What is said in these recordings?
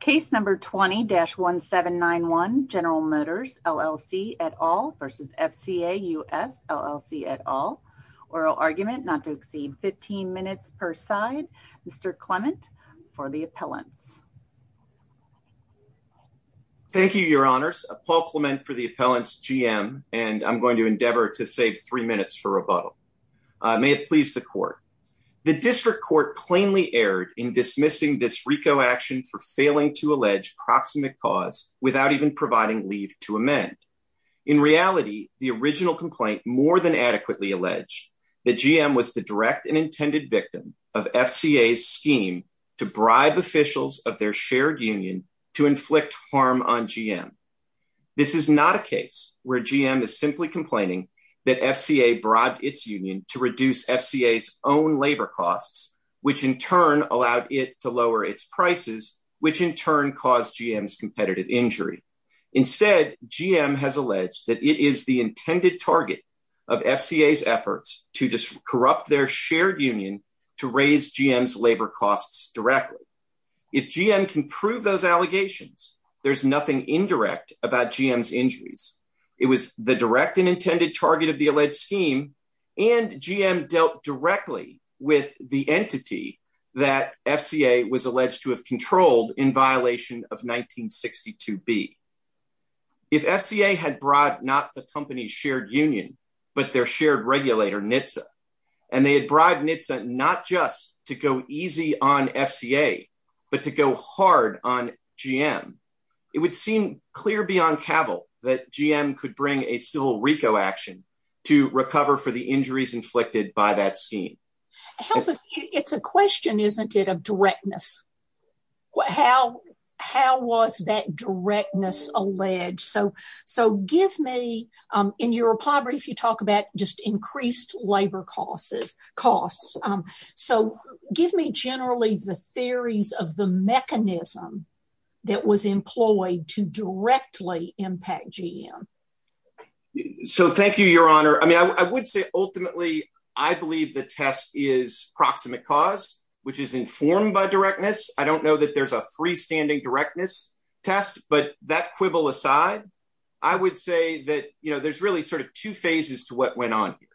case number 20-1791 General Motors LLC at all versus FCA US LLC at all oral argument not to exceed 15 minutes per side Mr. Clement for the appellants thank you your honors Paul Clement for the appellants GM and I'm going to endeavor to save three minutes for rebuttal may it please the court the district court plainly erred in dismissing this RICO action for failing to allege proximate cause without even providing leave to amend in reality the original complaint more than adequately alleged that GM was the direct and intended victim of FCA's scheme to bribe officials of their shared union to inflict harm on GM this is not a case where GM is simply complaining that FCA brought its union to reduce FCA's own labor costs which in turn allowed it to lower its prices which in turn caused GM's competitive injury instead GM has alleged that it is the intended target of FCA's efforts to corrupt their shared union to raise GM's labor costs directly if GM can prove those allegations there's nothing indirect about GM's injuries it was the direct and intended target of the scheme and GM dealt directly with the entity that FCA was alleged to have controlled in violation of 1962b if FCA had brought not the company's shared union but their shared regulator NHTSA and they had bribed NHTSA not just to go easy on FCA but to go hard on GM it would seem clear beyond cavil that GM could bring a civil RICO action to recover for the injuries inflicted by that scheme it's a question isn't it of directness how how was that directness alleged so so give me in your plobbery if you talk about just increased labor causes costs so give me generally the GM so thank you your honor i mean i would say ultimately i believe the test is proximate cause which is informed by directness i don't know that there's a freestanding directness test but that quibble aside i would say that you know there's really sort of two phases to what went on here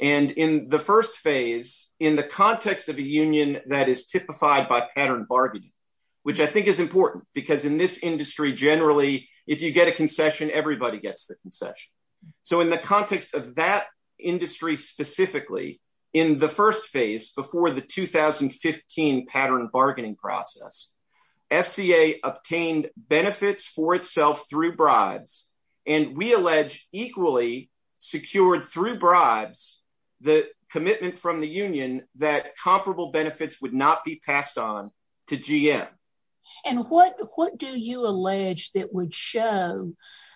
and in the first phase in the context of a union that is typified by pattern which i think is important because in this industry generally if you get a concession everybody gets the concession so in the context of that industry specifically in the first phase before the 2015 pattern bargaining process FCA obtained benefits for itself through bribes and we allege equally secured through bribes the commitment from the union that comparable benefits would not be passed on to GM and what what do you allege that would show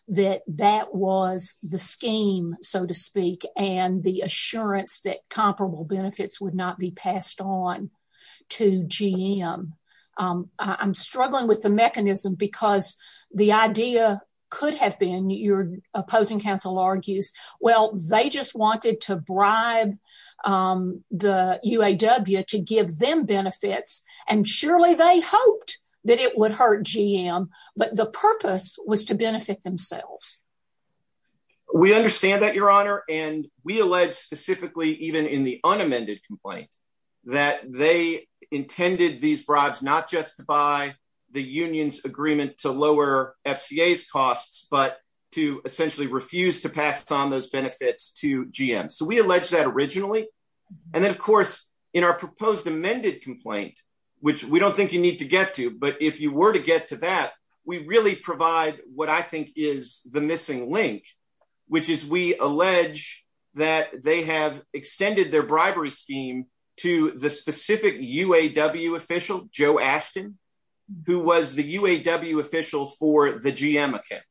that that was the scheme so to speak and the assurance that comparable benefits would not be passed on to GM i'm struggling with the mechanism because the idea could have been your opposing counsel argues well they just wanted to bribe the UAW to give them benefits and surely they hoped that it would hurt GM but the purpose was to benefit themselves we understand that your honor and we allege specifically even in the unamended complaint that they intended these bribes not just by the union's agreement to lower FCA's costs but to essentially refuse to pass on those benefits to GM so we allege that originally and then of course in our proposed amended complaint which we don't think you need to get to but if you were to get to that we really provide what i think is the missing link which is we allege that they have extended their bribery scheme to the specific UAW official Joe Ashton who was the UAW official for the GM account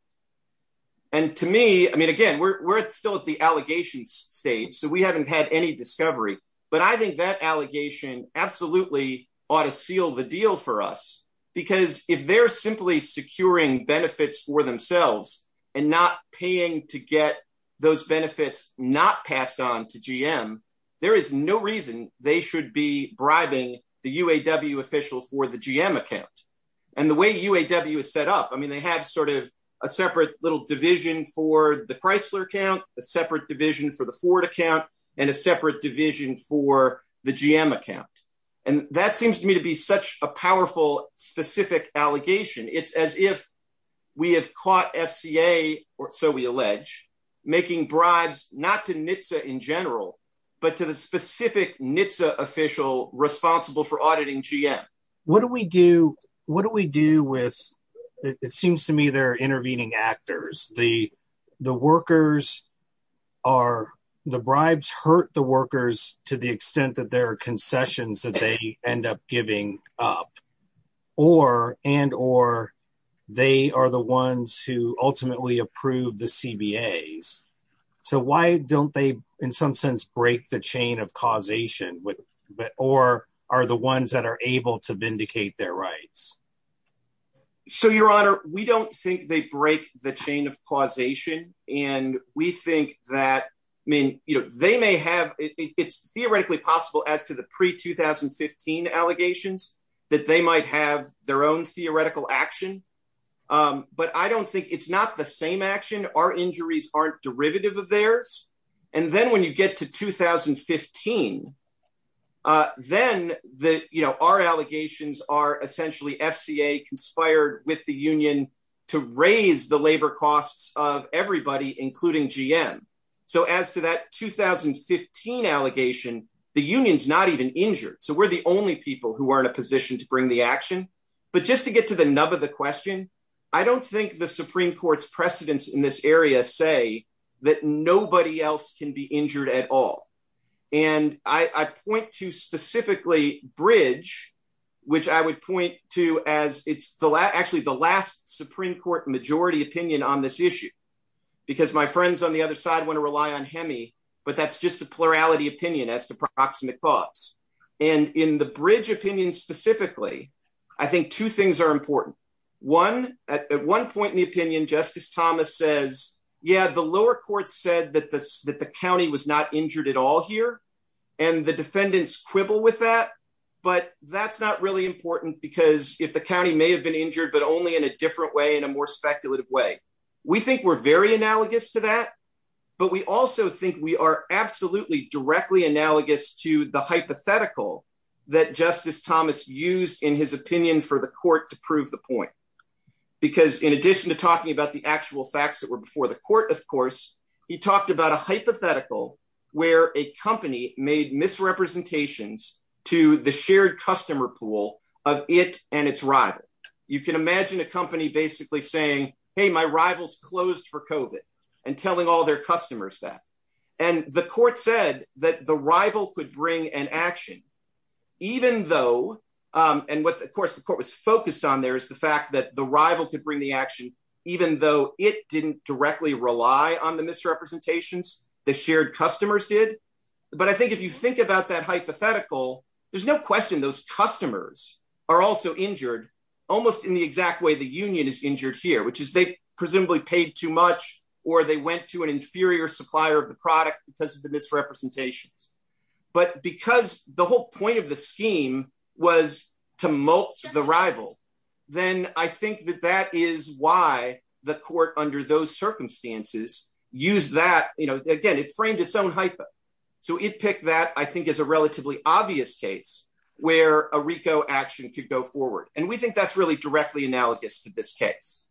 and to me i mean again we're still at the allegations stage so we haven't had any discovery but i think that allegation absolutely ought to seal the deal for us because if they're simply securing benefits for themselves and not paying to get those benefits not passed on to GM there is no reason they should be bribing the UAW official for the GM account and the way UAW is set up i mean they have sort of a separate little division for the Chrysler account a separate division for the Ford account and a separate division for the GM account and that seems to me to be such a powerful specific allegation it's as if we have caught FCA or so we allege making bribes not to NHTSA in general but to the specific NHTSA official responsible for auditing what do we do what do we do with it seems to me they're intervening actors the the workers are the bribes hurt the workers to the extent that there are concessions that they end up giving up or and or they are the ones who ultimately approve the CBAs so why don't they in some break the chain of causation with but or are the ones that are able to vindicate their rights so your honor we don't think they break the chain of causation and we think that i mean you know they may have it's theoretically possible as to the pre-2015 allegations that they might have their own theoretical action but i don't think it's not the same action our injuries aren't of theirs and then when you get to 2015 uh then the you know our allegations are essentially FCA conspired with the union to raise the labor costs of everybody including GM so as to that 2015 allegation the union's not even injured so we're the only people who are in a position to bring the action but just to get to the nub of the question i don't think the supreme court's say that nobody else can be injured at all and i i point to specifically bridge which i would point to as it's the last actually the last supreme court majority opinion on this issue because my friends on the other side want to rely on hemi but that's just the plurality opinion as to proximate cause and in the bridge opinion specifically i think two things are yeah the lower court said that this that the county was not injured at all here and the defendants quibble with that but that's not really important because if the county may have been injured but only in a different way in a more speculative way we think we're very analogous to that but we also think we are absolutely directly analogous to the hypothetical that justice thomas used in his opinion for the court to prove the point because in addition to actual facts that were before the court of course he talked about a hypothetical where a company made misrepresentations to the shared customer pool of it and its rival you can imagine a company basically saying hey my rivals closed for covet and telling all their customers that and the court said that the rival could bring an action even though um and what of course the court was focused on there is the fact that the rival could bring the action even though it didn't directly rely on the misrepresentations the shared customers did but i think if you think about that hypothetical there's no question those customers are also injured almost in the exact way the union is injured here which is they presumably paid too much or they went to an inferior supplier of the product because of the misrepresentations but because the whole point of the scheme was to mulch the rival then i think that that is why the court under those circumstances used that you know again it framed its own hypo so it picked that i think is a relatively obvious case where a rico action could go forward and we think that's really directly analogous to this case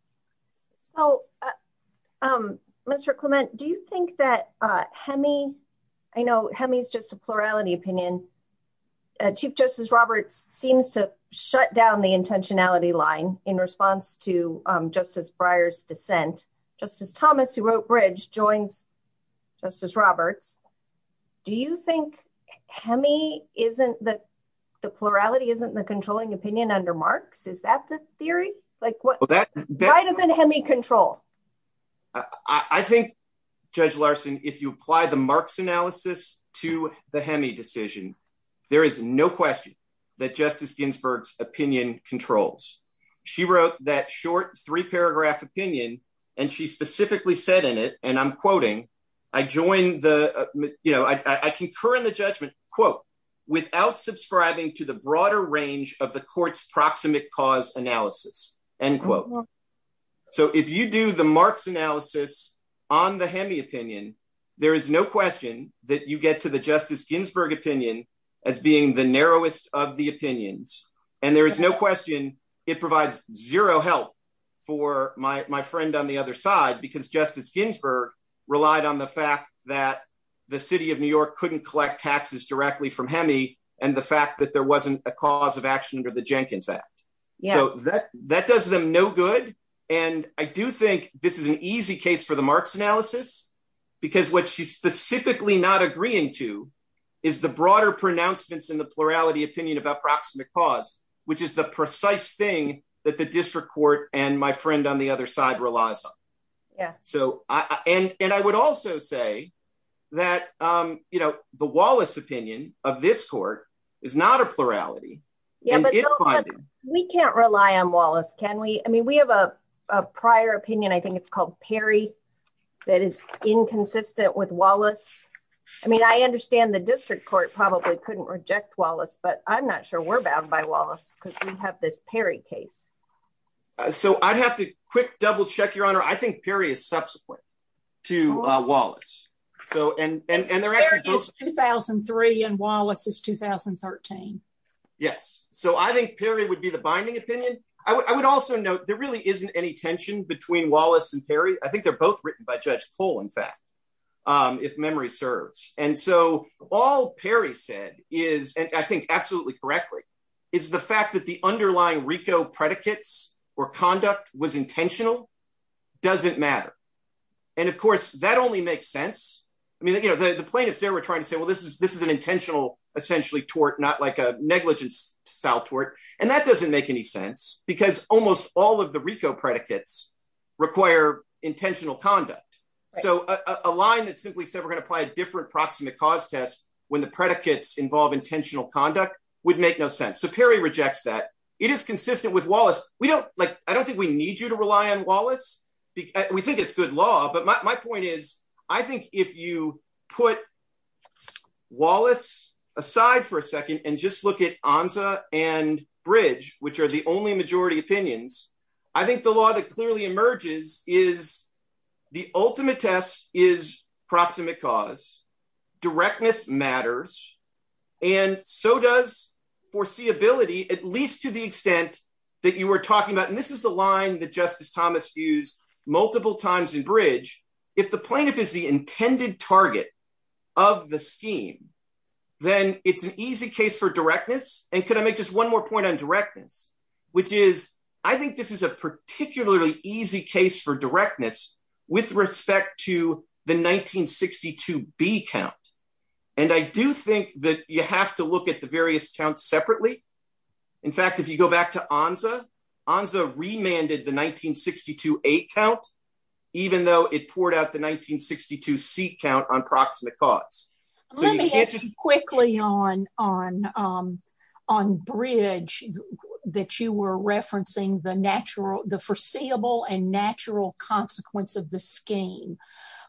so um mr clement do you think that uh hemi i know hemi is just a plurality opinion chief justice roberts seems to shut down the intentionality line in response to um justice bryars dissent justice thomas who wrote bridge joins justice roberts do you think hemi isn't that the plurality isn't the controlling opinion under marx is that the theory like what that why doesn't hemi control i i think judge larson if you apply the marx analysis to the hemi decision there is no question that justice ginsburg's opinion controls she wrote that short three paragraph opinion and she specifically said in it and i'm quoting i join the you know i i concur in the judgment quote without subscribing to the broader range of the court's proximate cause analysis end quote so if you do the marx analysis on the hemi opinion there is no question that you get to the justice ginsburg opinion as being the narrowest of the opinions and there is no question it provides zero help for my my friend on the other side because justice ginsburg relied on the fact that the city of new york couldn't collect taxes directly from hemi and the fact that there wasn't a cause of action under the jenkins act yeah so that that does them no good and i do think this is an easy case for the marx analysis because what she's specifically not agreeing to is the broader pronouncements in the plurality opinion about proximate cause which is the precise thing that the district court and my friend on the other side relies on yeah so i and and i would also say that um you know the wallace opinion of this court is not a plurality yeah but we can't rely on wallace can we i mean we have a a prior opinion i think it's called perry that is inconsistent with wallace i mean i understand the district court probably couldn't reject wallace but i'm not sure we're bound by wallace because we have this perry case so i'd have to quick double check your honor i think perry is subsequent to wallace so and and they're actually 2003 and wallace is 2013 yes so i think perry would be the binding opinion i would also note there really isn't any tension between wallace and perry i think they're both written by judge cole in fact um if memory serves and so all perry said is and i think absolutely correctly is the fact that the underlying rico predicates or conduct was intentional doesn't matter and of course that only makes sense i mean you know the the plaintiffs there were trying to say well this is this is an intentional essentially tort not like a negligence style tort and that doesn't make any sense because almost all of the rico predicates require intentional conduct so a line that simply said we're going to apply a different proximate cause test when the predicates involve intentional conduct would make no sense so perry rejects that it is consistent with wallace we don't like i don't think we need you to rely on wallace because we think it's good law but my point is i think if you put wallace aside for a second and just look at anza and bridge which are the only majority opinions i think the law that clearly emerges is the ultimate test is proximate cause directness matters and so does foreseeability at least to the extent that you were talking about and this is the line that justice thomas used multiple times in bridge if the plaintiff is the intended target of the scheme then it's an easy case for directness and could i make just one more point on directness which is i think this is a particularly easy case for directness with respect to the 1962 b count and i do think that you have to look at the various counts separately in fact if you go back to anza anza remanded the 1962 8 count even though it poured out the 1962 c count on proximate cause let me ask you quickly on on um on bridge that you were referencing the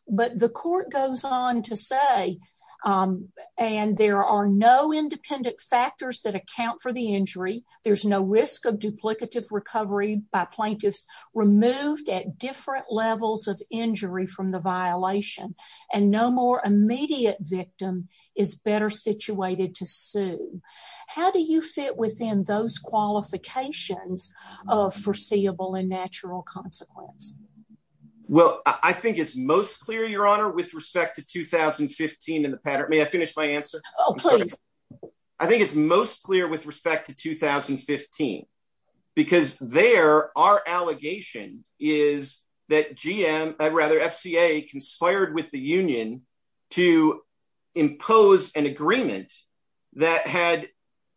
but the court goes on to say um and there are no independent factors that account for the injury there's no risk of duplicative recovery by plaintiffs removed at different levels of injury from the violation and no more immediate victim is better situated to sue how do you fit within those qualifications of foreseeable and natural consequence well i think it's most clear your honor with respect to 2015 in the pattern may i finish my answer oh please i think it's most clear with respect to 2015 because there our allegation is that gm rather fca conspired with the union to impose an agreement that had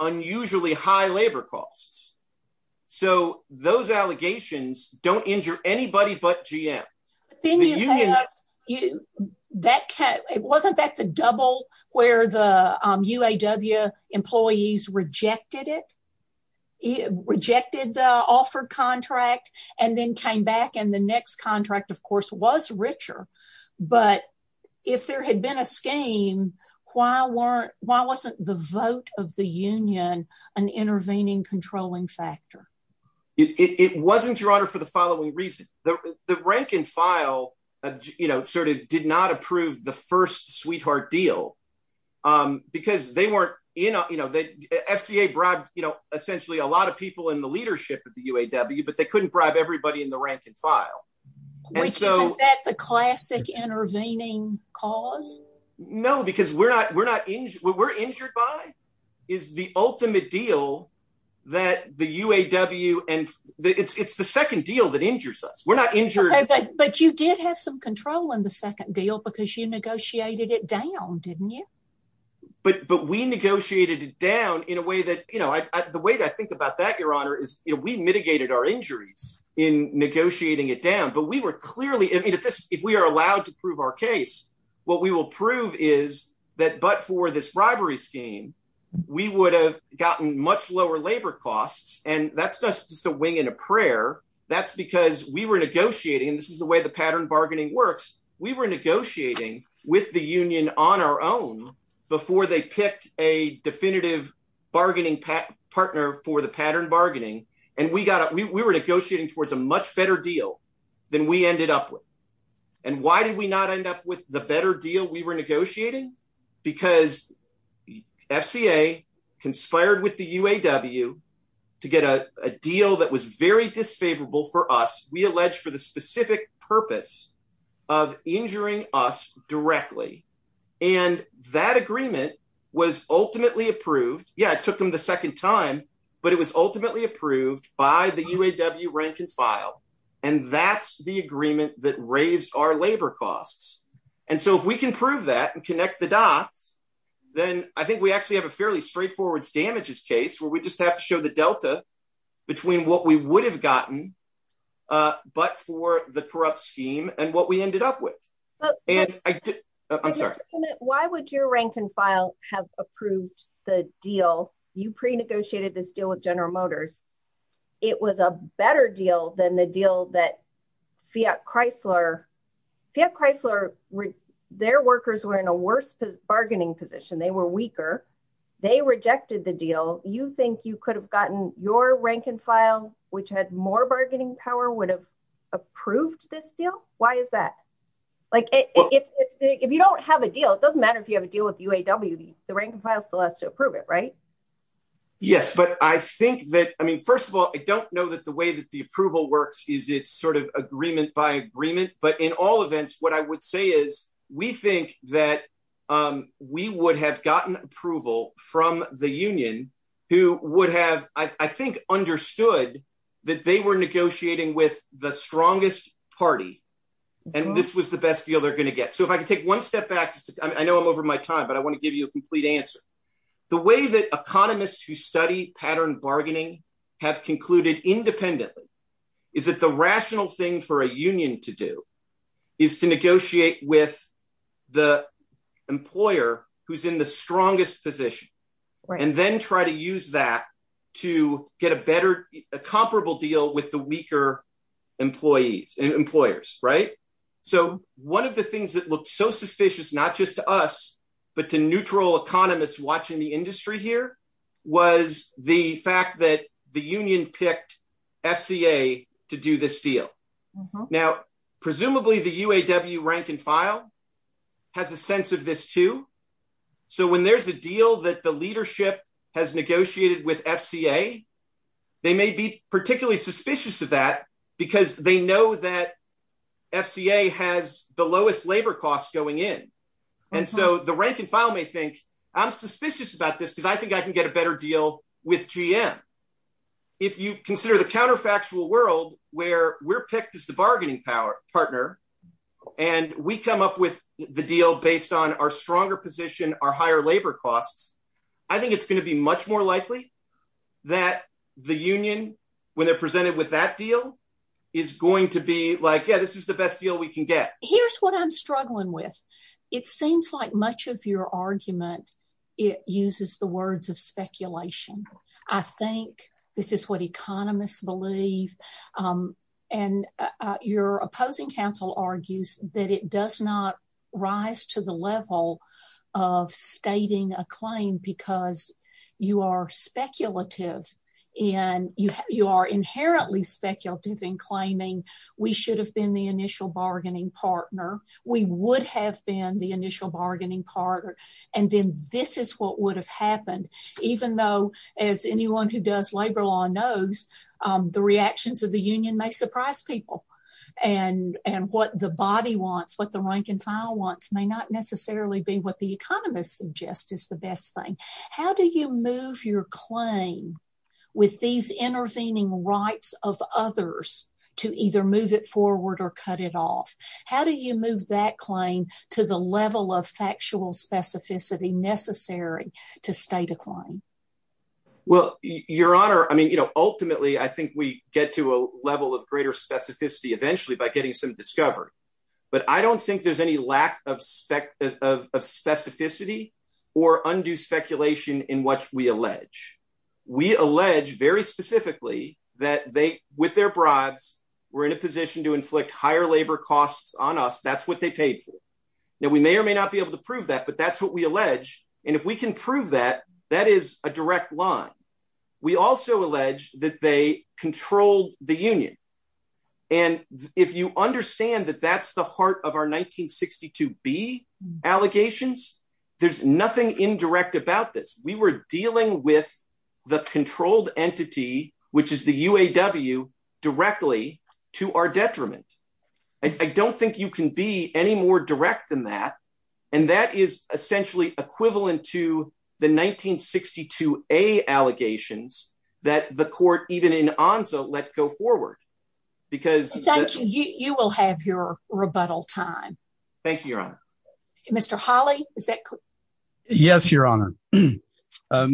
unusually high labor costs so those allegations don't injure anybody but gm the union that it wasn't that the double where the um uaw employees rejected it rejected the offer contract and then came back and the next contract of course was richer but if there had been a scheme why weren't why wasn't the vote of the union an intervening controlling factor it wasn't your honor for the following reason the the rank and file you know sort of did not approve the first sweetheart deal um because they weren't you know you know that fca bribed you know essentially a lot of people in the leadership of the uaw but couldn't bribe everybody in the rank and file which isn't that the classic intervening cause no because we're not we're not we're injured by is the ultimate deal that the uaw and it's it's the second deal that injures us we're not injured but you did have some control in the second deal because you negotiated it down didn't you but but we negotiated it down in a way that you know i the way i think about that your honor is we mitigated our injuries in negotiating it down but we were clearly i mean if this if we are allowed to prove our case what we will prove is that but for this bribery scheme we would have gotten much lower labor costs and that's not just a wing in a prayer that's because we were negotiating this is the way the pattern bargaining works we were negotiating with the union on our own before they picked a definitive bargaining partner for the pattern bargaining and we got it we were negotiating towards a much better deal than we ended up with and why did we not end up with the better deal we were negotiating because fca conspired with the uaw to get a a deal that was very disfavorable for us we alleged for the specific purpose of injuring us directly and that agreement was ultimately approved yeah it took them the second time but it was ultimately approved by the uaw rank and file and that's the agreement that raised our labor costs and so if we can prove that and connect the dots then i think we actually have a fairly straightforward damages case where we just have to show the delta between what we would have gotten uh but for the corrupt scheme and what ended up with and i'm sorry why would your rank and file have approved the deal you pre-negotiated this deal with general motors it was a better deal than the deal that fiat chrysler fiat chrysler their workers were in a worse bargaining position they were weaker they rejected the deal you think you could have gotten your rank and file which had more bargaining power would have approved this deal why is that like if if you don't have a deal it doesn't matter if you have a deal with uaw the rank and file still has to approve it right yes but i think that i mean first of all i don't know that the way that the approval works is it's sort of agreement by agreement but in all events what i would say is we think that um we would have gotten approval from the union who would have i and this was the best deal they're going to get so if i can take one step back i know i'm over my time but i want to give you a complete answer the way that economists who study pattern bargaining have concluded independently is that the rational thing for a union to do is to negotiate with the employer who's in the strongest position and then try to use that to get a better a comparable deal with the weaker employees and employers right so one of the things that looked so suspicious not just to us but to neutral economists watching the industry here was the fact that the union picked fca to do this deal now presumably the uaw rank and file has a sense of this too so when there's a deal that the leadership has negotiated with fca they may be particularly suspicious of that because they know that fca has the lowest labor costs going in and so the rank and file may think i'm suspicious about this because i think i can get a better deal with gm if you consider the counterfactual world where we're picked as the bargaining power partner and we come up with the deal based on our stronger position our higher labor costs i think it's going be much more likely that the union when they're presented with that deal is going to be like yeah this is the best deal we can get here's what i'm struggling with it seems like much of your argument it uses the words of speculation i think this is what economists believe um and your opposing counsel argues that it does not rise to the level of stating a claim because you are speculative and you you are inherently speculative in claiming we should have been the initial bargaining partner we would have been the initial bargaining partner and then this is what would have happened even though as anyone who does labor law knows um the reactions of the union may surprise people and and what the body wants what the rank and file wants may not necessarily be what the economists suggest is the best thing how do you move your claim with these intervening rights of others to either move it forward or cut it off how do you move that claim to the level of factual specificity necessary to state a claim well your honor i mean you know ultimately i think we get to a level of greater specificity eventually by getting some discovery but i don't think there's any lack of spec of specificity or undue speculation in what we allege we allege very specifically that they with their bribes were in a position to inflict higher labor costs on us that's what they paid for now we may or may not be able to prove that but that's what we allege and if we can prove that that is a direct line we also allege that they controlled the union and if you understand that that's the heart of our 1962b allegations there's nothing indirect about this we were dealing with the controlled entity which is the uaw directly to our detriment i don't think you can be any more direct than that and that is essentially equivalent to the 1962a allegations that the court even in anza let go forward because thank you you will have your rebuttal time thank you your honor mr holly is that yes your honor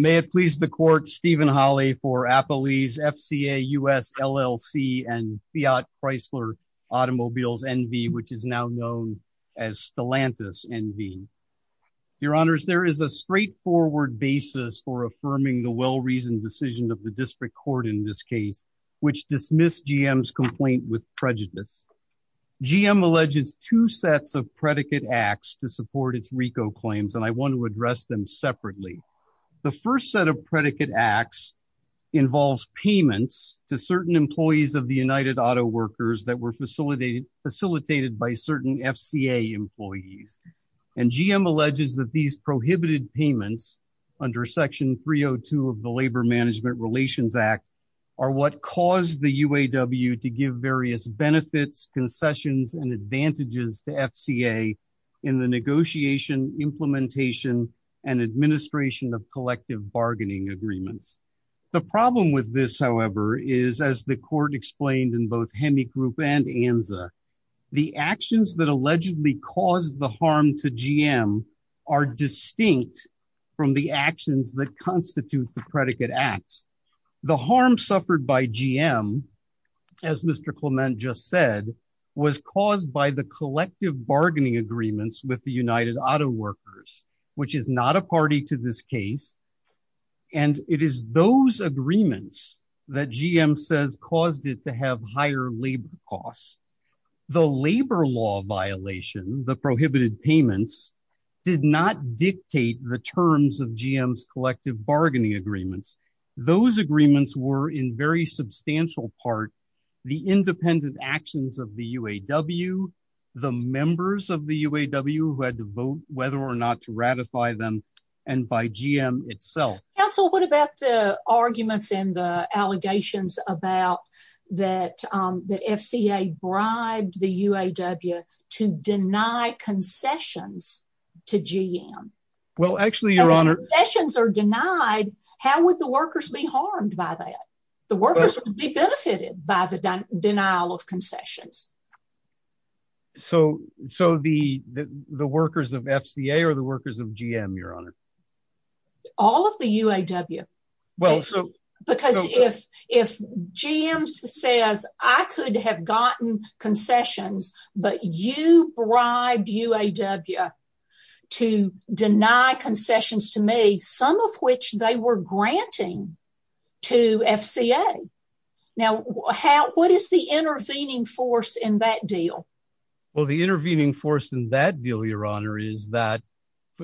may have pleased the court holly for appley's fca us llc and fiat chrysler automobiles nv which is now known as stilantis nv your honors there is a straightforward basis for affirming the well-reasoned decision of the district court in this case which dismissed gm's complaint with prejudice gm alleges two sets of predicate acts to support its rico claims and i want to address them separately the first set of predicate acts involves payments to certain employees of the united auto workers that were facilitated facilitated by certain fca employees and gm alleges that these prohibited payments under section 302 of the labor management relations act are what caused the uaw to give various benefits concessions and advantages to fca in the negotiation implementation and agreements the problem with this however is as the court explained in both hemi group and anza the actions that allegedly caused the harm to gm are distinct from the actions that constitute the predicate acts the harm suffered by gm as mr clement just said was caused by the collective bargaining agreements with the united auto workers which is not a party to this case and it is those agreements that gm says caused it to have higher labor costs the labor law violation the prohibited payments did not dictate the terms of gm's collective bargaining agreements those agreements were in very substantial part the independent actions of the uaw the members of the uaw who had to vote whether or not to ratify them and by gm itself council what about the arguments and the allegations about that um the fca bribed the uaw to deny concessions to gm well actually your honor sessions are denied how would the workers be harmed by that the workers would be benefited by the denial of concessions so so the the workers of fca or the workers of gm your honor all of the uaw well so because if if gm says i could have gotten concessions but you bribed uaw to deny concessions to me some of which they were granting to fca now how what is the intervening force in that deal well the intervening force in that deal your honor is that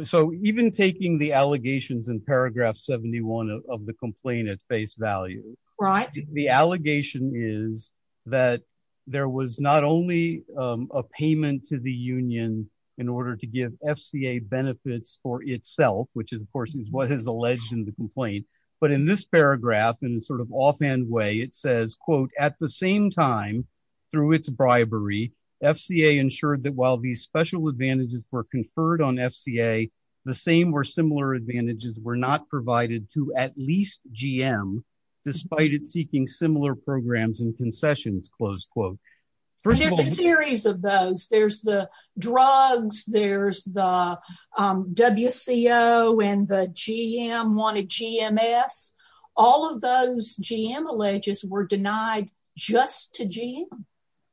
so even taking the allegations in paragraph 71 of the complaint at face value right the allegation is that there was not only a payment to the union in order to give fca benefits for itself which is of course is what has alleged in the complaint but in this paragraph and sort of offhand way it says quote at the same time through its bribery fca ensured that while these special advantages were conferred on fca the same or similar advantages were not provided to at least gm despite it there's the drugs there's the wco and the gm wanted gms all of those gm alleges were denied just to gm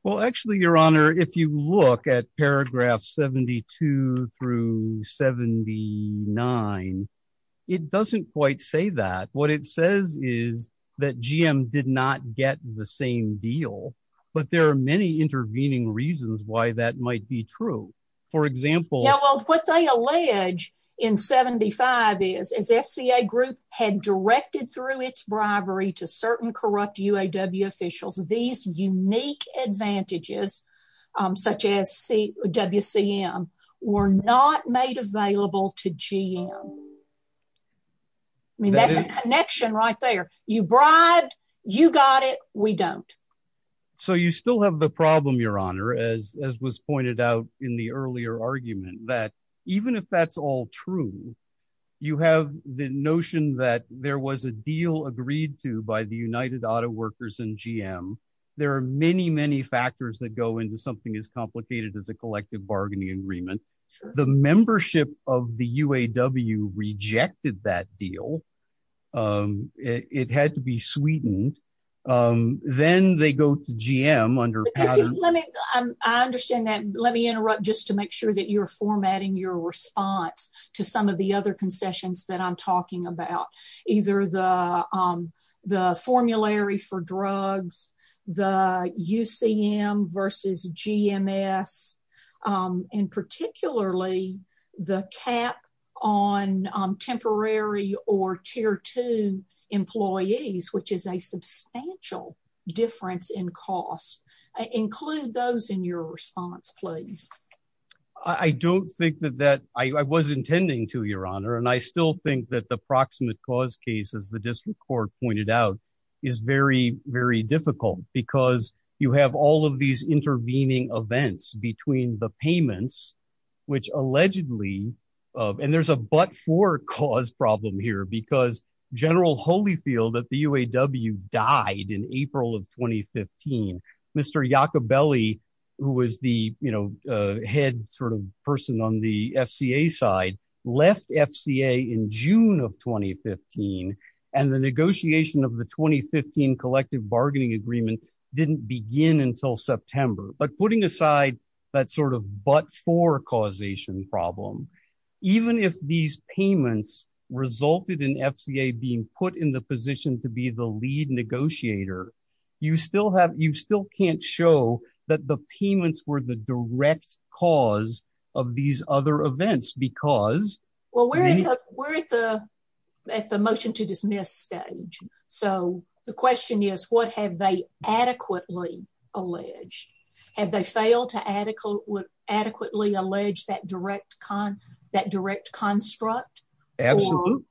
well actually your honor if you look at paragraph 72 through 79 it doesn't quite say that what it says is that gm did not get the same deal but there are many intervening reasons why that might be true for example yeah well what they allege in 75 is as fca group had directed through its bribery to certain corrupt uaw officials these unique advantages such as c wcm were not made available to gm i mean that's a connection right there you bribed you got it we don't so you still have the problem your honor as as was pointed out in the earlier argument that even if that's all true you have the notion that there was a deal agreed to by the united auto gm there are many many factors that go into something as complicated as a collective bargaining agreement the membership of the uaw rejected that deal um it had to be sweetened um then they go to gm under i understand that let me interrupt just to make sure that you're formatting your response to some of the other concessions that i'm talking about either the um the formulary for drugs the ucm versus gms um and particularly the cap on temporary or tier two employees which is a substantial difference in cost include those in your response please i don't think that that i was intending to your honor and i still think that the proximate cause case as the district court pointed out is very very difficult because you have all of these intervening events between the payments which allegedly and there's a but for cause problem here because general holyfield at the uaw died in april of 2015 mr yacobelli who was the you know head sort of person on the fca side left fca in june of 2015 and the negotiation of the 2015 collective bargaining agreement didn't begin until september but putting aside that sort of but for causation problem even if these payments resulted in fca being put in the position to be the lead negotiator you still have you still can't show that the payments were the direct cause of these other events because well we're in the we're at the at the motion to dismiss stage so the question is what have they adequately alleged have they failed to adequate adequately allege that direct con that direct construct absolutely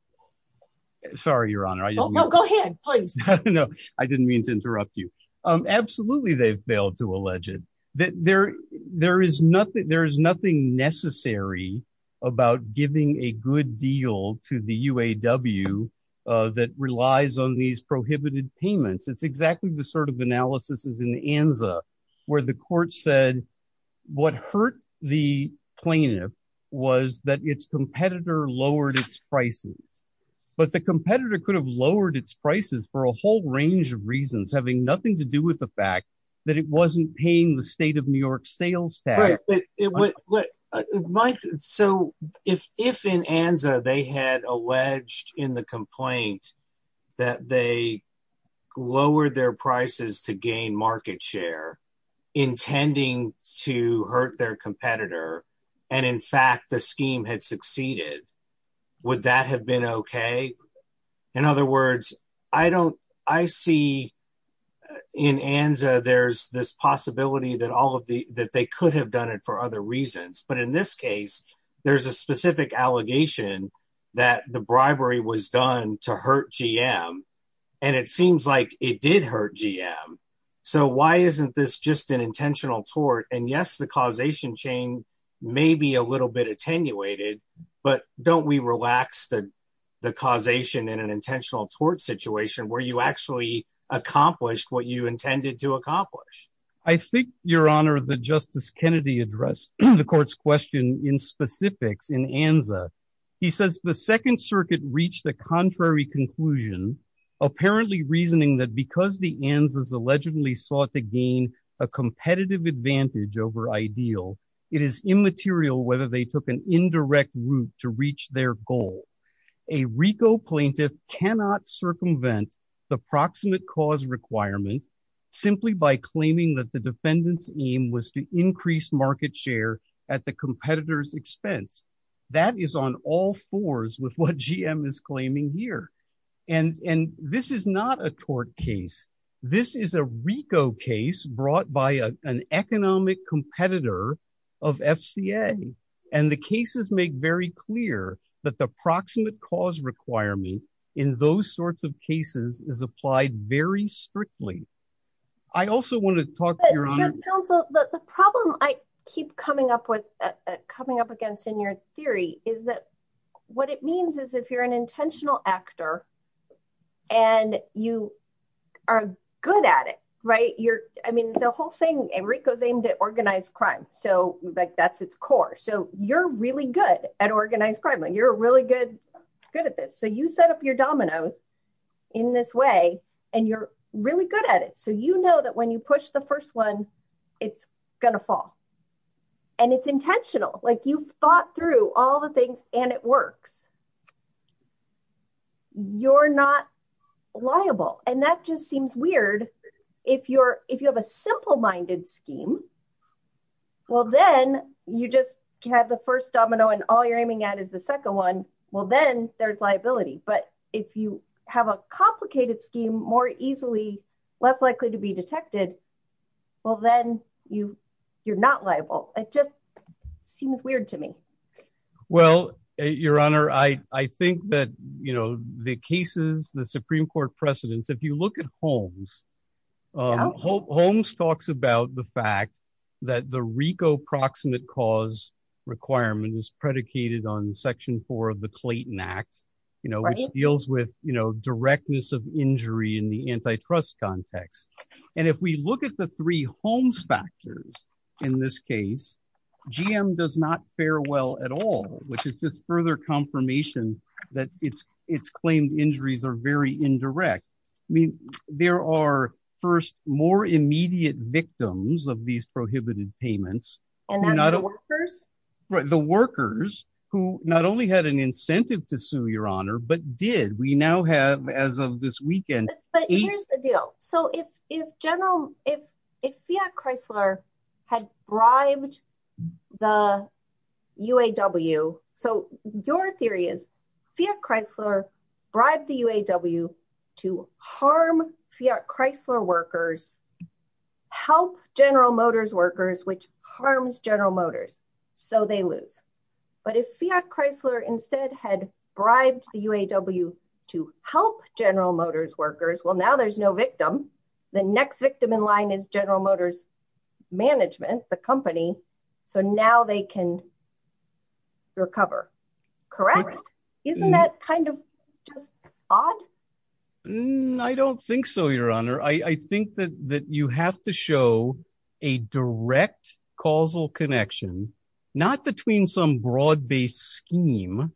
sorry your honor i don't go ahead please no i didn't mean to interrupt you um absolutely they've failed to allege it that there there is nothing there is nothing necessary about giving a good deal to the uaw uh that relies on these prohibited payments it's exactly the sort of analysis is in the anza where the court said what hurt the plaintiff was that its competitor lowered its prices but the competitor could have lowered its prices for a whole range of reasons having nothing to do with the fact that it wasn't paying the state of new york sales tax mike so if if in anza they had alleged in the complaint that they lowered their prices to gain market share intending to hurt their competitor and in fact the scheme had succeeded would that have been okay in other words i don't i see in anza there's this possibility that all of the that they could have done it for other reasons but in this case there's a specific allegation that the bribery was done to hurt gm and it seems like it did hurt gm so why isn't this just an intentional tort and yes the causation chain may be a little bit attenuated but don't we relax the the causation in an intentional tort situation where you actually accomplished what you intended to accomplish i think your honor the justice kennedy addressed the court's question in specifics in anza he says the second circuit reached the contrary conclusion apparently reasoning that because the ans is allegedly sought to gain a competitive advantage over ideal it is immaterial whether they took an indirect route to reach their goal a rico plaintiff cannot circumvent the proximate cause requirement simply by claiming that the defendant's aim was to increase market share at the competitor's expense that is on all fours with what gm is claiming here and and this is not a tort case this is a rico case brought by an economic competitor of fca and the cases make very clear that the proximate cause requirement in those sorts of cases is applied very strictly i also want to talk to your counsel the problem i keep coming up with coming up against in your theory is that what it means is if you're an intentional actor and you are good at it right you're i mean the whole thing and rico's aimed at organized crime so like that's its core so you're really good at organized crime and you're really good good at this so you set up your dominoes in this way and you're really good at it so you know that you push the first one it's gonna fall and it's intentional like you've thought through all the things and it works you're not liable and that just seems weird if you're if you have a simple minded scheme well then you just have the first domino and all you're aiming at is the second one well then there's liability but if you have a complicated scheme more easily less likely to be detected well then you you're not liable it just seems weird to me well your honor i i think that you know the cases the supreme court precedents if you look at holmes holmes talks about the fact that the rico proximate cause requirement is predicated on section four of the clayton act you know which deals with you know directness of injury in the antitrust context and if we look at the three holmes factors in this case gm does not fare well at all which is just further confirmation that it's it's claimed injuries are very indirect i mean there are first more immediate victims of these prohibited payments are not the workers who not only had an incentive to sue your honor but did we now have as of this weekend but here's the deal so if if general if if fiat chrysler had bribed the uaw so your theory is fiat chrysler bribed the uaw to harm fiat chrysler workers help general motors workers which harms general motors so they lose but if fiat chrysler instead had bribed the uaw to help general motors workers well now there's no victim the next victim in line is general motors management the company so now they can recover correct isn't that kind of just odd i don't think so your honor i i think that you have to show a direct causal connection not between some broad-based scheme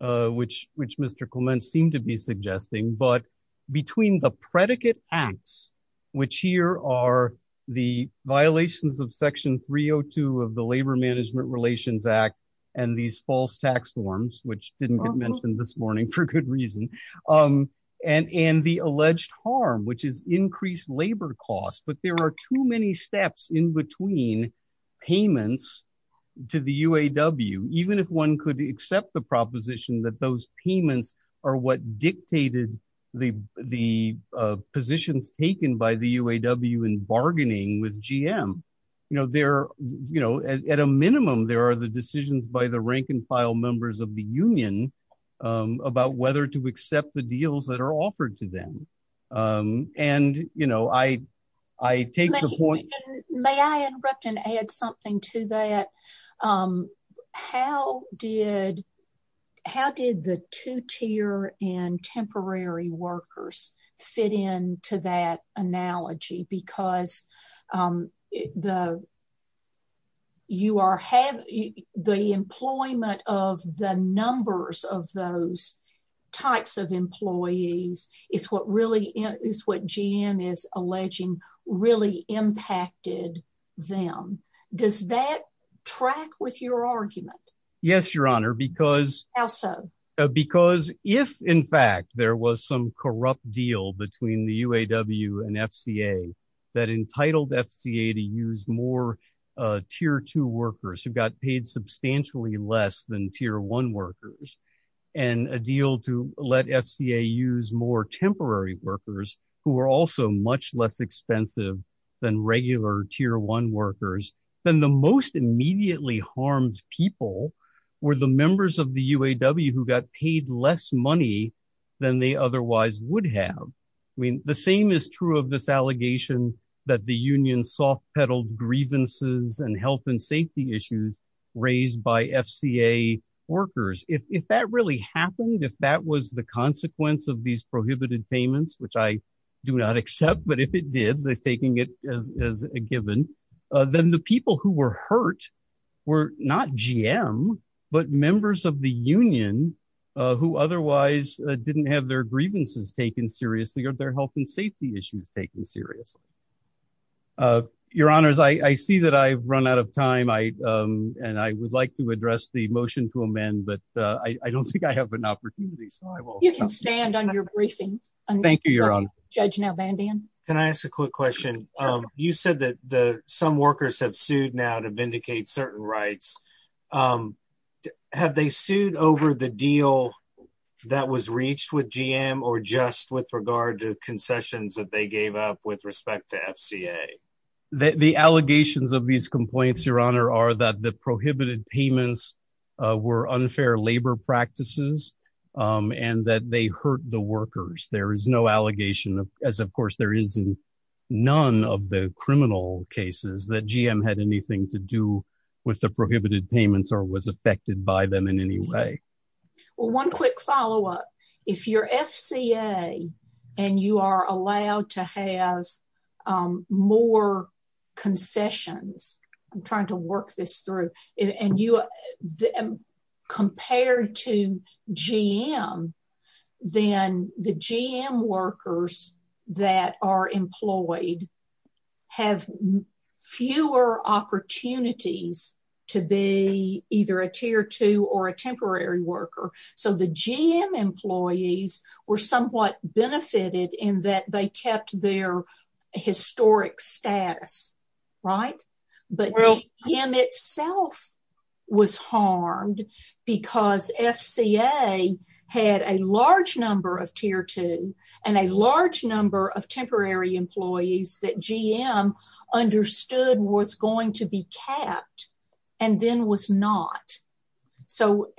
uh which which mr clement seemed to be suggesting but between the predicate acts which here are the violations of section 302 of the labor management relations act and these false tax norms which didn't get mentioned this morning for good reason um and and the alleged harm which is increased labor costs but there are too many steps in between payments to the uaw even if one could accept the proposition that those payments are what dictated the the positions taken by the uaw in bargaining with gm you know there you know at a minimum there are the decisions by the rank and file members of the union about whether to accept the deals that are offered to them um and you know i i take the point may i interrupt and add something to that um how did how did the two-tier and temporary workers fit into that analogy because um the you are having the employment of the numbers of those types of employees is what really is what gm is alleging really impacted them does that track with your argument yes your honor because how so because if in fact there was some corrupt deal between the uaw and fca that entitled fca to use more tier two workers who got paid substantially less than tier one workers and a deal to let fca use more temporary workers who are also much less expensive than regular tier one workers then the most immediately harmed people were the members of the uaw who got paid less money than they otherwise would have i mean the same is true this allegation that the union soft-pedaled grievances and health and safety issues raised by fca workers if that really happened if that was the consequence of these prohibited payments which i do not accept but if it did they're taking it as as a given uh then the people who were hurt were not gm but members of the union uh who otherwise didn't have their seriously uh your honors i i see that i've run out of time i um and i would like to address the motion to amend but uh i don't think i have an opportunity so i will you can stand on your briefing thank you your honor judge now bandian can i ask a quick question um you said that the some workers have sued now to vindicate certain rights um have they sued over the deal that was with respect to fca the allegations of these complaints your honor are that the prohibited payments were unfair labor practices um and that they hurt the workers there is no allegation as of course there is none of the criminal cases that gm had anything to do with the prohibited payments or was affected by them in any way well one quick follow-up if you're fca and you are allowed to have um more concessions i'm trying to work this through and you are compared to gm then the gm workers that are employed have fewer opportunities to be either or a temporary worker so the gm employees were somewhat benefited in that they kept their historic status right but gm itself was harmed because fca had a large number of tier two and a large number of temporary employees that gm understood was going to be capped and then was not so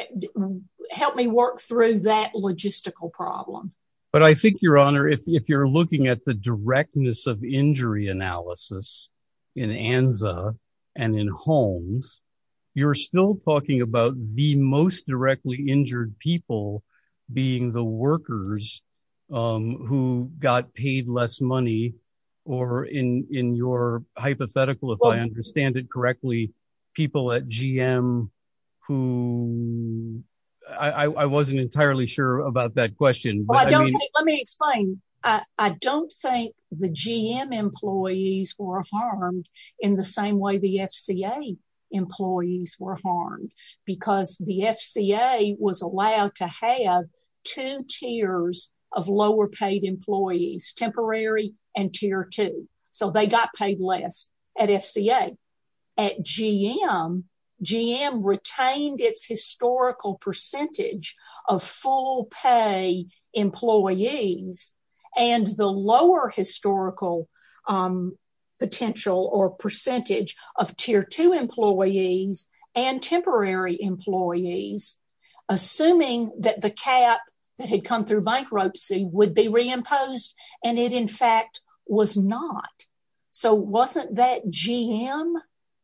help me work through that logistical problem but i think your honor if you're looking at the directness of injury analysis in anza and in homes you're still talking about the most directly injured people being the workers um who got paid less money or in in your hypothetical if i understand it correctly people at gm who i i wasn't entirely sure about that question let me explain i i don't think the gm employees were harmed in the same way the fca employees were harmed because the fca was allowed to have two tiers of lower paid employees temporary and tier two so they got paid less at fca at gm gm retained its historical percentage of full pay employees and the lower historical um potential or percentage of tier two employees and temporary employees assuming that the cap that had come through bankruptcy would be reimposed and it in fact was not so wasn't that gm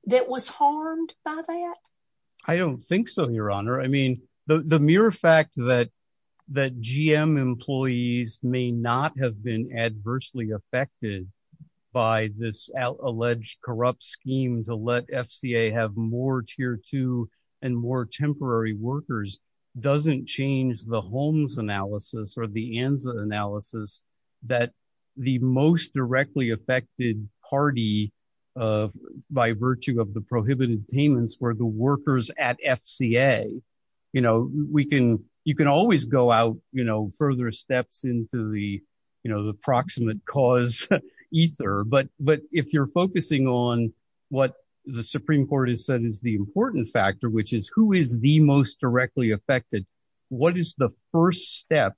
that was harmed by that i don't think so your honor i mean the mere fact that that gm employees may not have been adversely affected by this alleged corrupt scheme to let fca have more tier two and more temporary workers doesn't change the homes analysis or the anza analysis that the most directly affected party of by virtue of the prohibited payments were the workers at fca you know we can you can always go out you know further steps into the you know the proximate cause ether but but if you're focusing on what the supreme court has said is the important factor which is who is the most directly affected what is the first step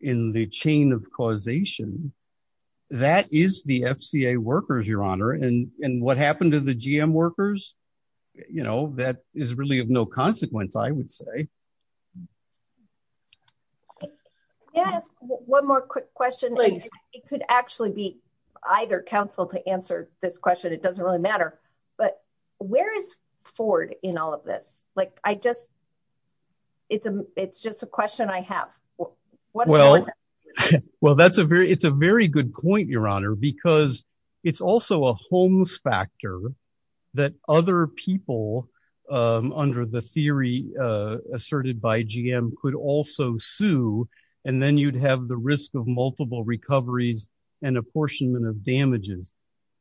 in the chain of causation that is the fca workers your honor and and what happened to the gm workers you know that is really no consequence i would say yes one more quick question it could actually be either council to answer this question it doesn't really matter but where is ford in all of this like i just it's a it's just a question i have well well that's a very it's a very good point your honor because it's also a homes factor that other people um under the theory uh asserted by gm could also sue and then you'd have the risk of multiple recoveries and apportionment of damages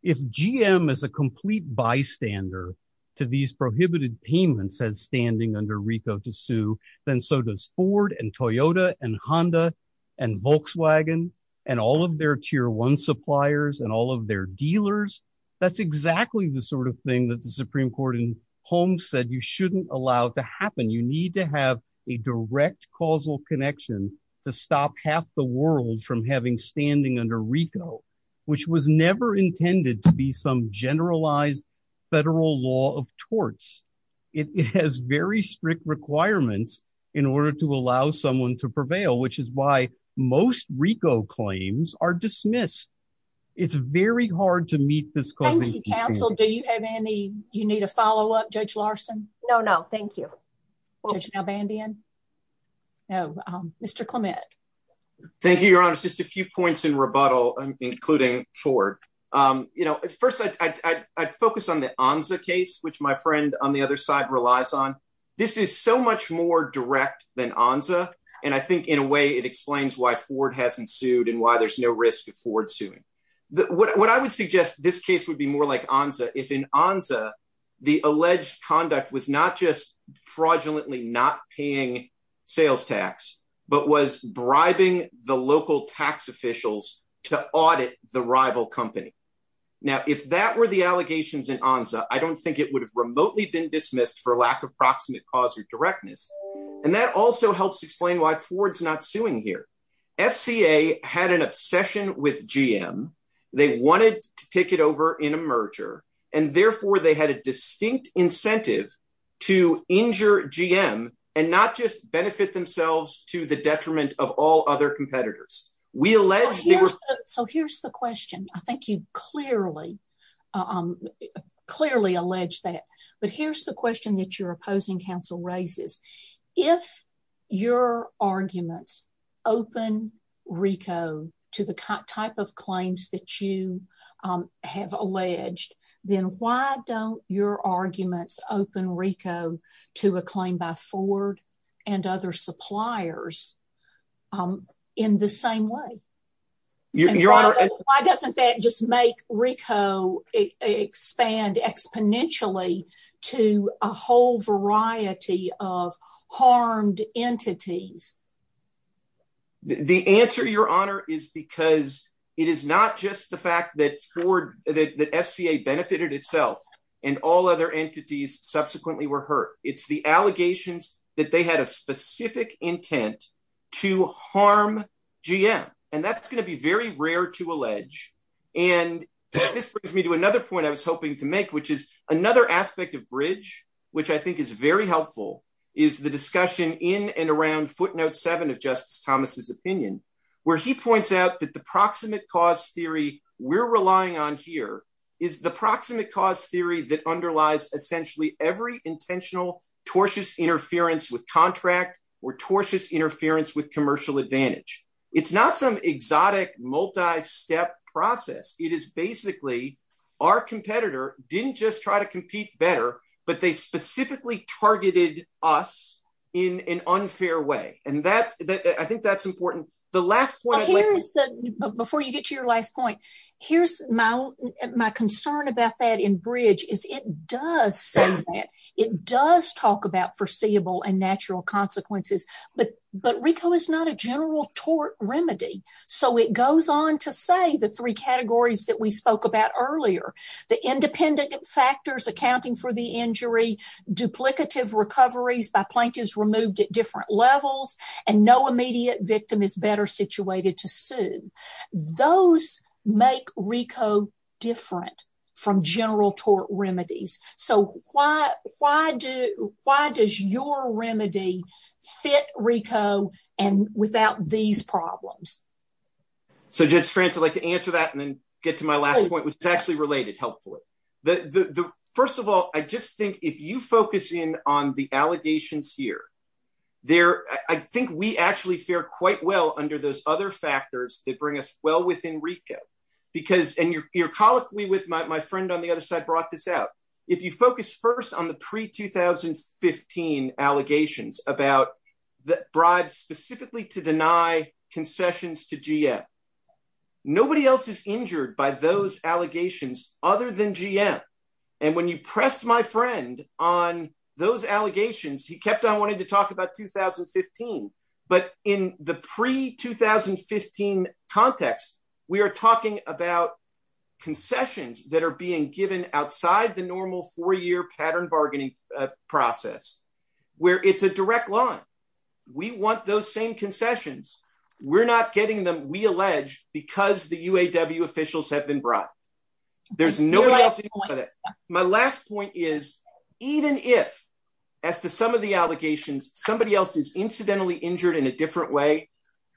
if gm is a complete bystander to these prohibited payments as standing under rico to sue then so ford and toyota and honda and volkswagen and all of their tier one suppliers and all of their dealers that's exactly the sort of thing that the supreme court in home said you shouldn't allow it to happen you need to have a direct causal connection to stop half the world from having standing under rico which was never intended to be some generalized federal law of torts it has very strict requirements in order to allow someone to prevail which is why most rico claims are dismissed it's very hard to meet this cause council do you have any you need a follow-up judge larson no no thank you judge now bandian no um mr clement thank you your honor just a few points in rebuttal including ford um you know first i i'd focus on anza case which my friend on the other side relies on this is so much more direct than anza and i think in a way it explains why ford hasn't sued and why there's no risk of ford suing the what i would suggest this case would be more like anza if in anza the alleged conduct was not just fraudulently not paying sales tax but was bribing the local tax officials to audit the i don't think it would have remotely been dismissed for lack of proximate cause or directness and that also helps explain why ford's not suing here fca had an obsession with gm they wanted to take it over in a merger and therefore they had a distinct incentive to injure gm and not just benefit themselves to the detriment of all other competitors we alleged so here's the question i think you clearly um clearly allege that but here's the question that your opposing council raises if your arguments open rico to the type of claims that you um have alleged then why don't your arguments open rico to a claim by ford and other suppliers um in the same way your honor why doesn't that just make rico expand exponentially to a whole variety of harmed entities the answer your honor is because it is not just the fact that ford that fca benefited itself and all other entities subsequently were hurt it's the allegations that they had a specific intent to harm gm and that's going to be very rare to allege and this brings me to another point i was hoping to make which is another aspect of bridge which i think is very helpful is the discussion in and around footnote seven of justice thomas's opinion where he points out that the proximate cause theory we're relying on here is the proximate cause theory that underlies essentially every intentional tortuous interference with contract or tortuous interference with commercial advantage it's not some exotic multi-step process it is basically our competitor didn't just try to compete better but they specifically targeted us in an unfair way and that's that i think that's important the last point here is the before you get to your last point here's my my concern about that in bridge is it does say that it does talk about foreseeable and natural consequences but but rico is not a general tort remedy so it goes on to say the three categories that we spoke about earlier the independent factors accounting for the injury duplicative recoveries by plaintiffs removed at different levels and no immediate victim is better situated to sue those make rico different from general tort remedies so why why do why does your remedy fit rico and without these problems so judge france i'd like to answer that and then get to my last point which is actually related helpfully the the first of all i just think if you focus in on the allegations here there i think we actually fare quite well under those other factors that bring us well within rico because and you're colloquially with my friend on the other side brought this out if you focus first on the pre-2015 allegations about the bribes specifically to deny concessions to gm nobody else is injured by those allegations other than gm and when you pressed my friend on those allegations he kept on wanting to talk about 2015 but in the pre-2015 context we are talking about concessions that are being given outside the normal four-year pattern bargaining process where it's a direct line we want those same concessions we're not getting them we allege because the uaw officials have been brought there's nobody else my last point is even if as to some of the allegations somebody else is incidentally injured in a different way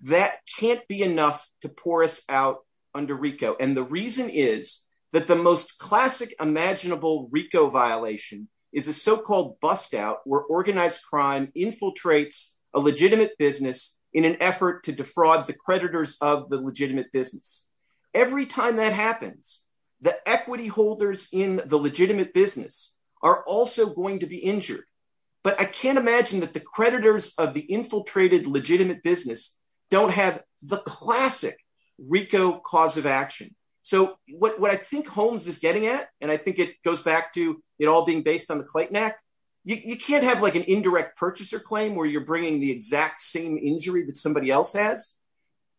that can't be enough to pour us out under rico and the reason is that the most classic imaginable rico violation is a so-called bust out where organized crime infiltrates a legitimate business in an effort to defraud the creditors of the legitimate business every time that happens the equity holders in the legitimate business are also going to be injured but i can't imagine that the creditors of the infiltrated legitimate business don't have the classic rico cause of action so what i think homes is getting at and i think it goes back to it all being based on the clayton act you can't have like an indirect purchaser claim where you're bringing the exact same injury that somebody else has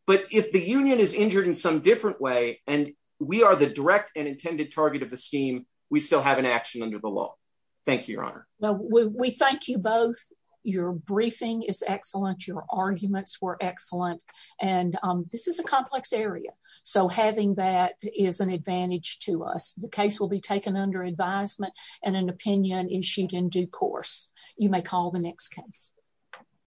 but if the union is injured in some different way and we are the direct and intended target of the scheme we still have an action under the law thank you your honor well we thank you both your briefing is excellent your arguments were excellent and this is a complex area so having that is an advantage to us the case will be taken under advisement and an opinion issued in due course you may call the next case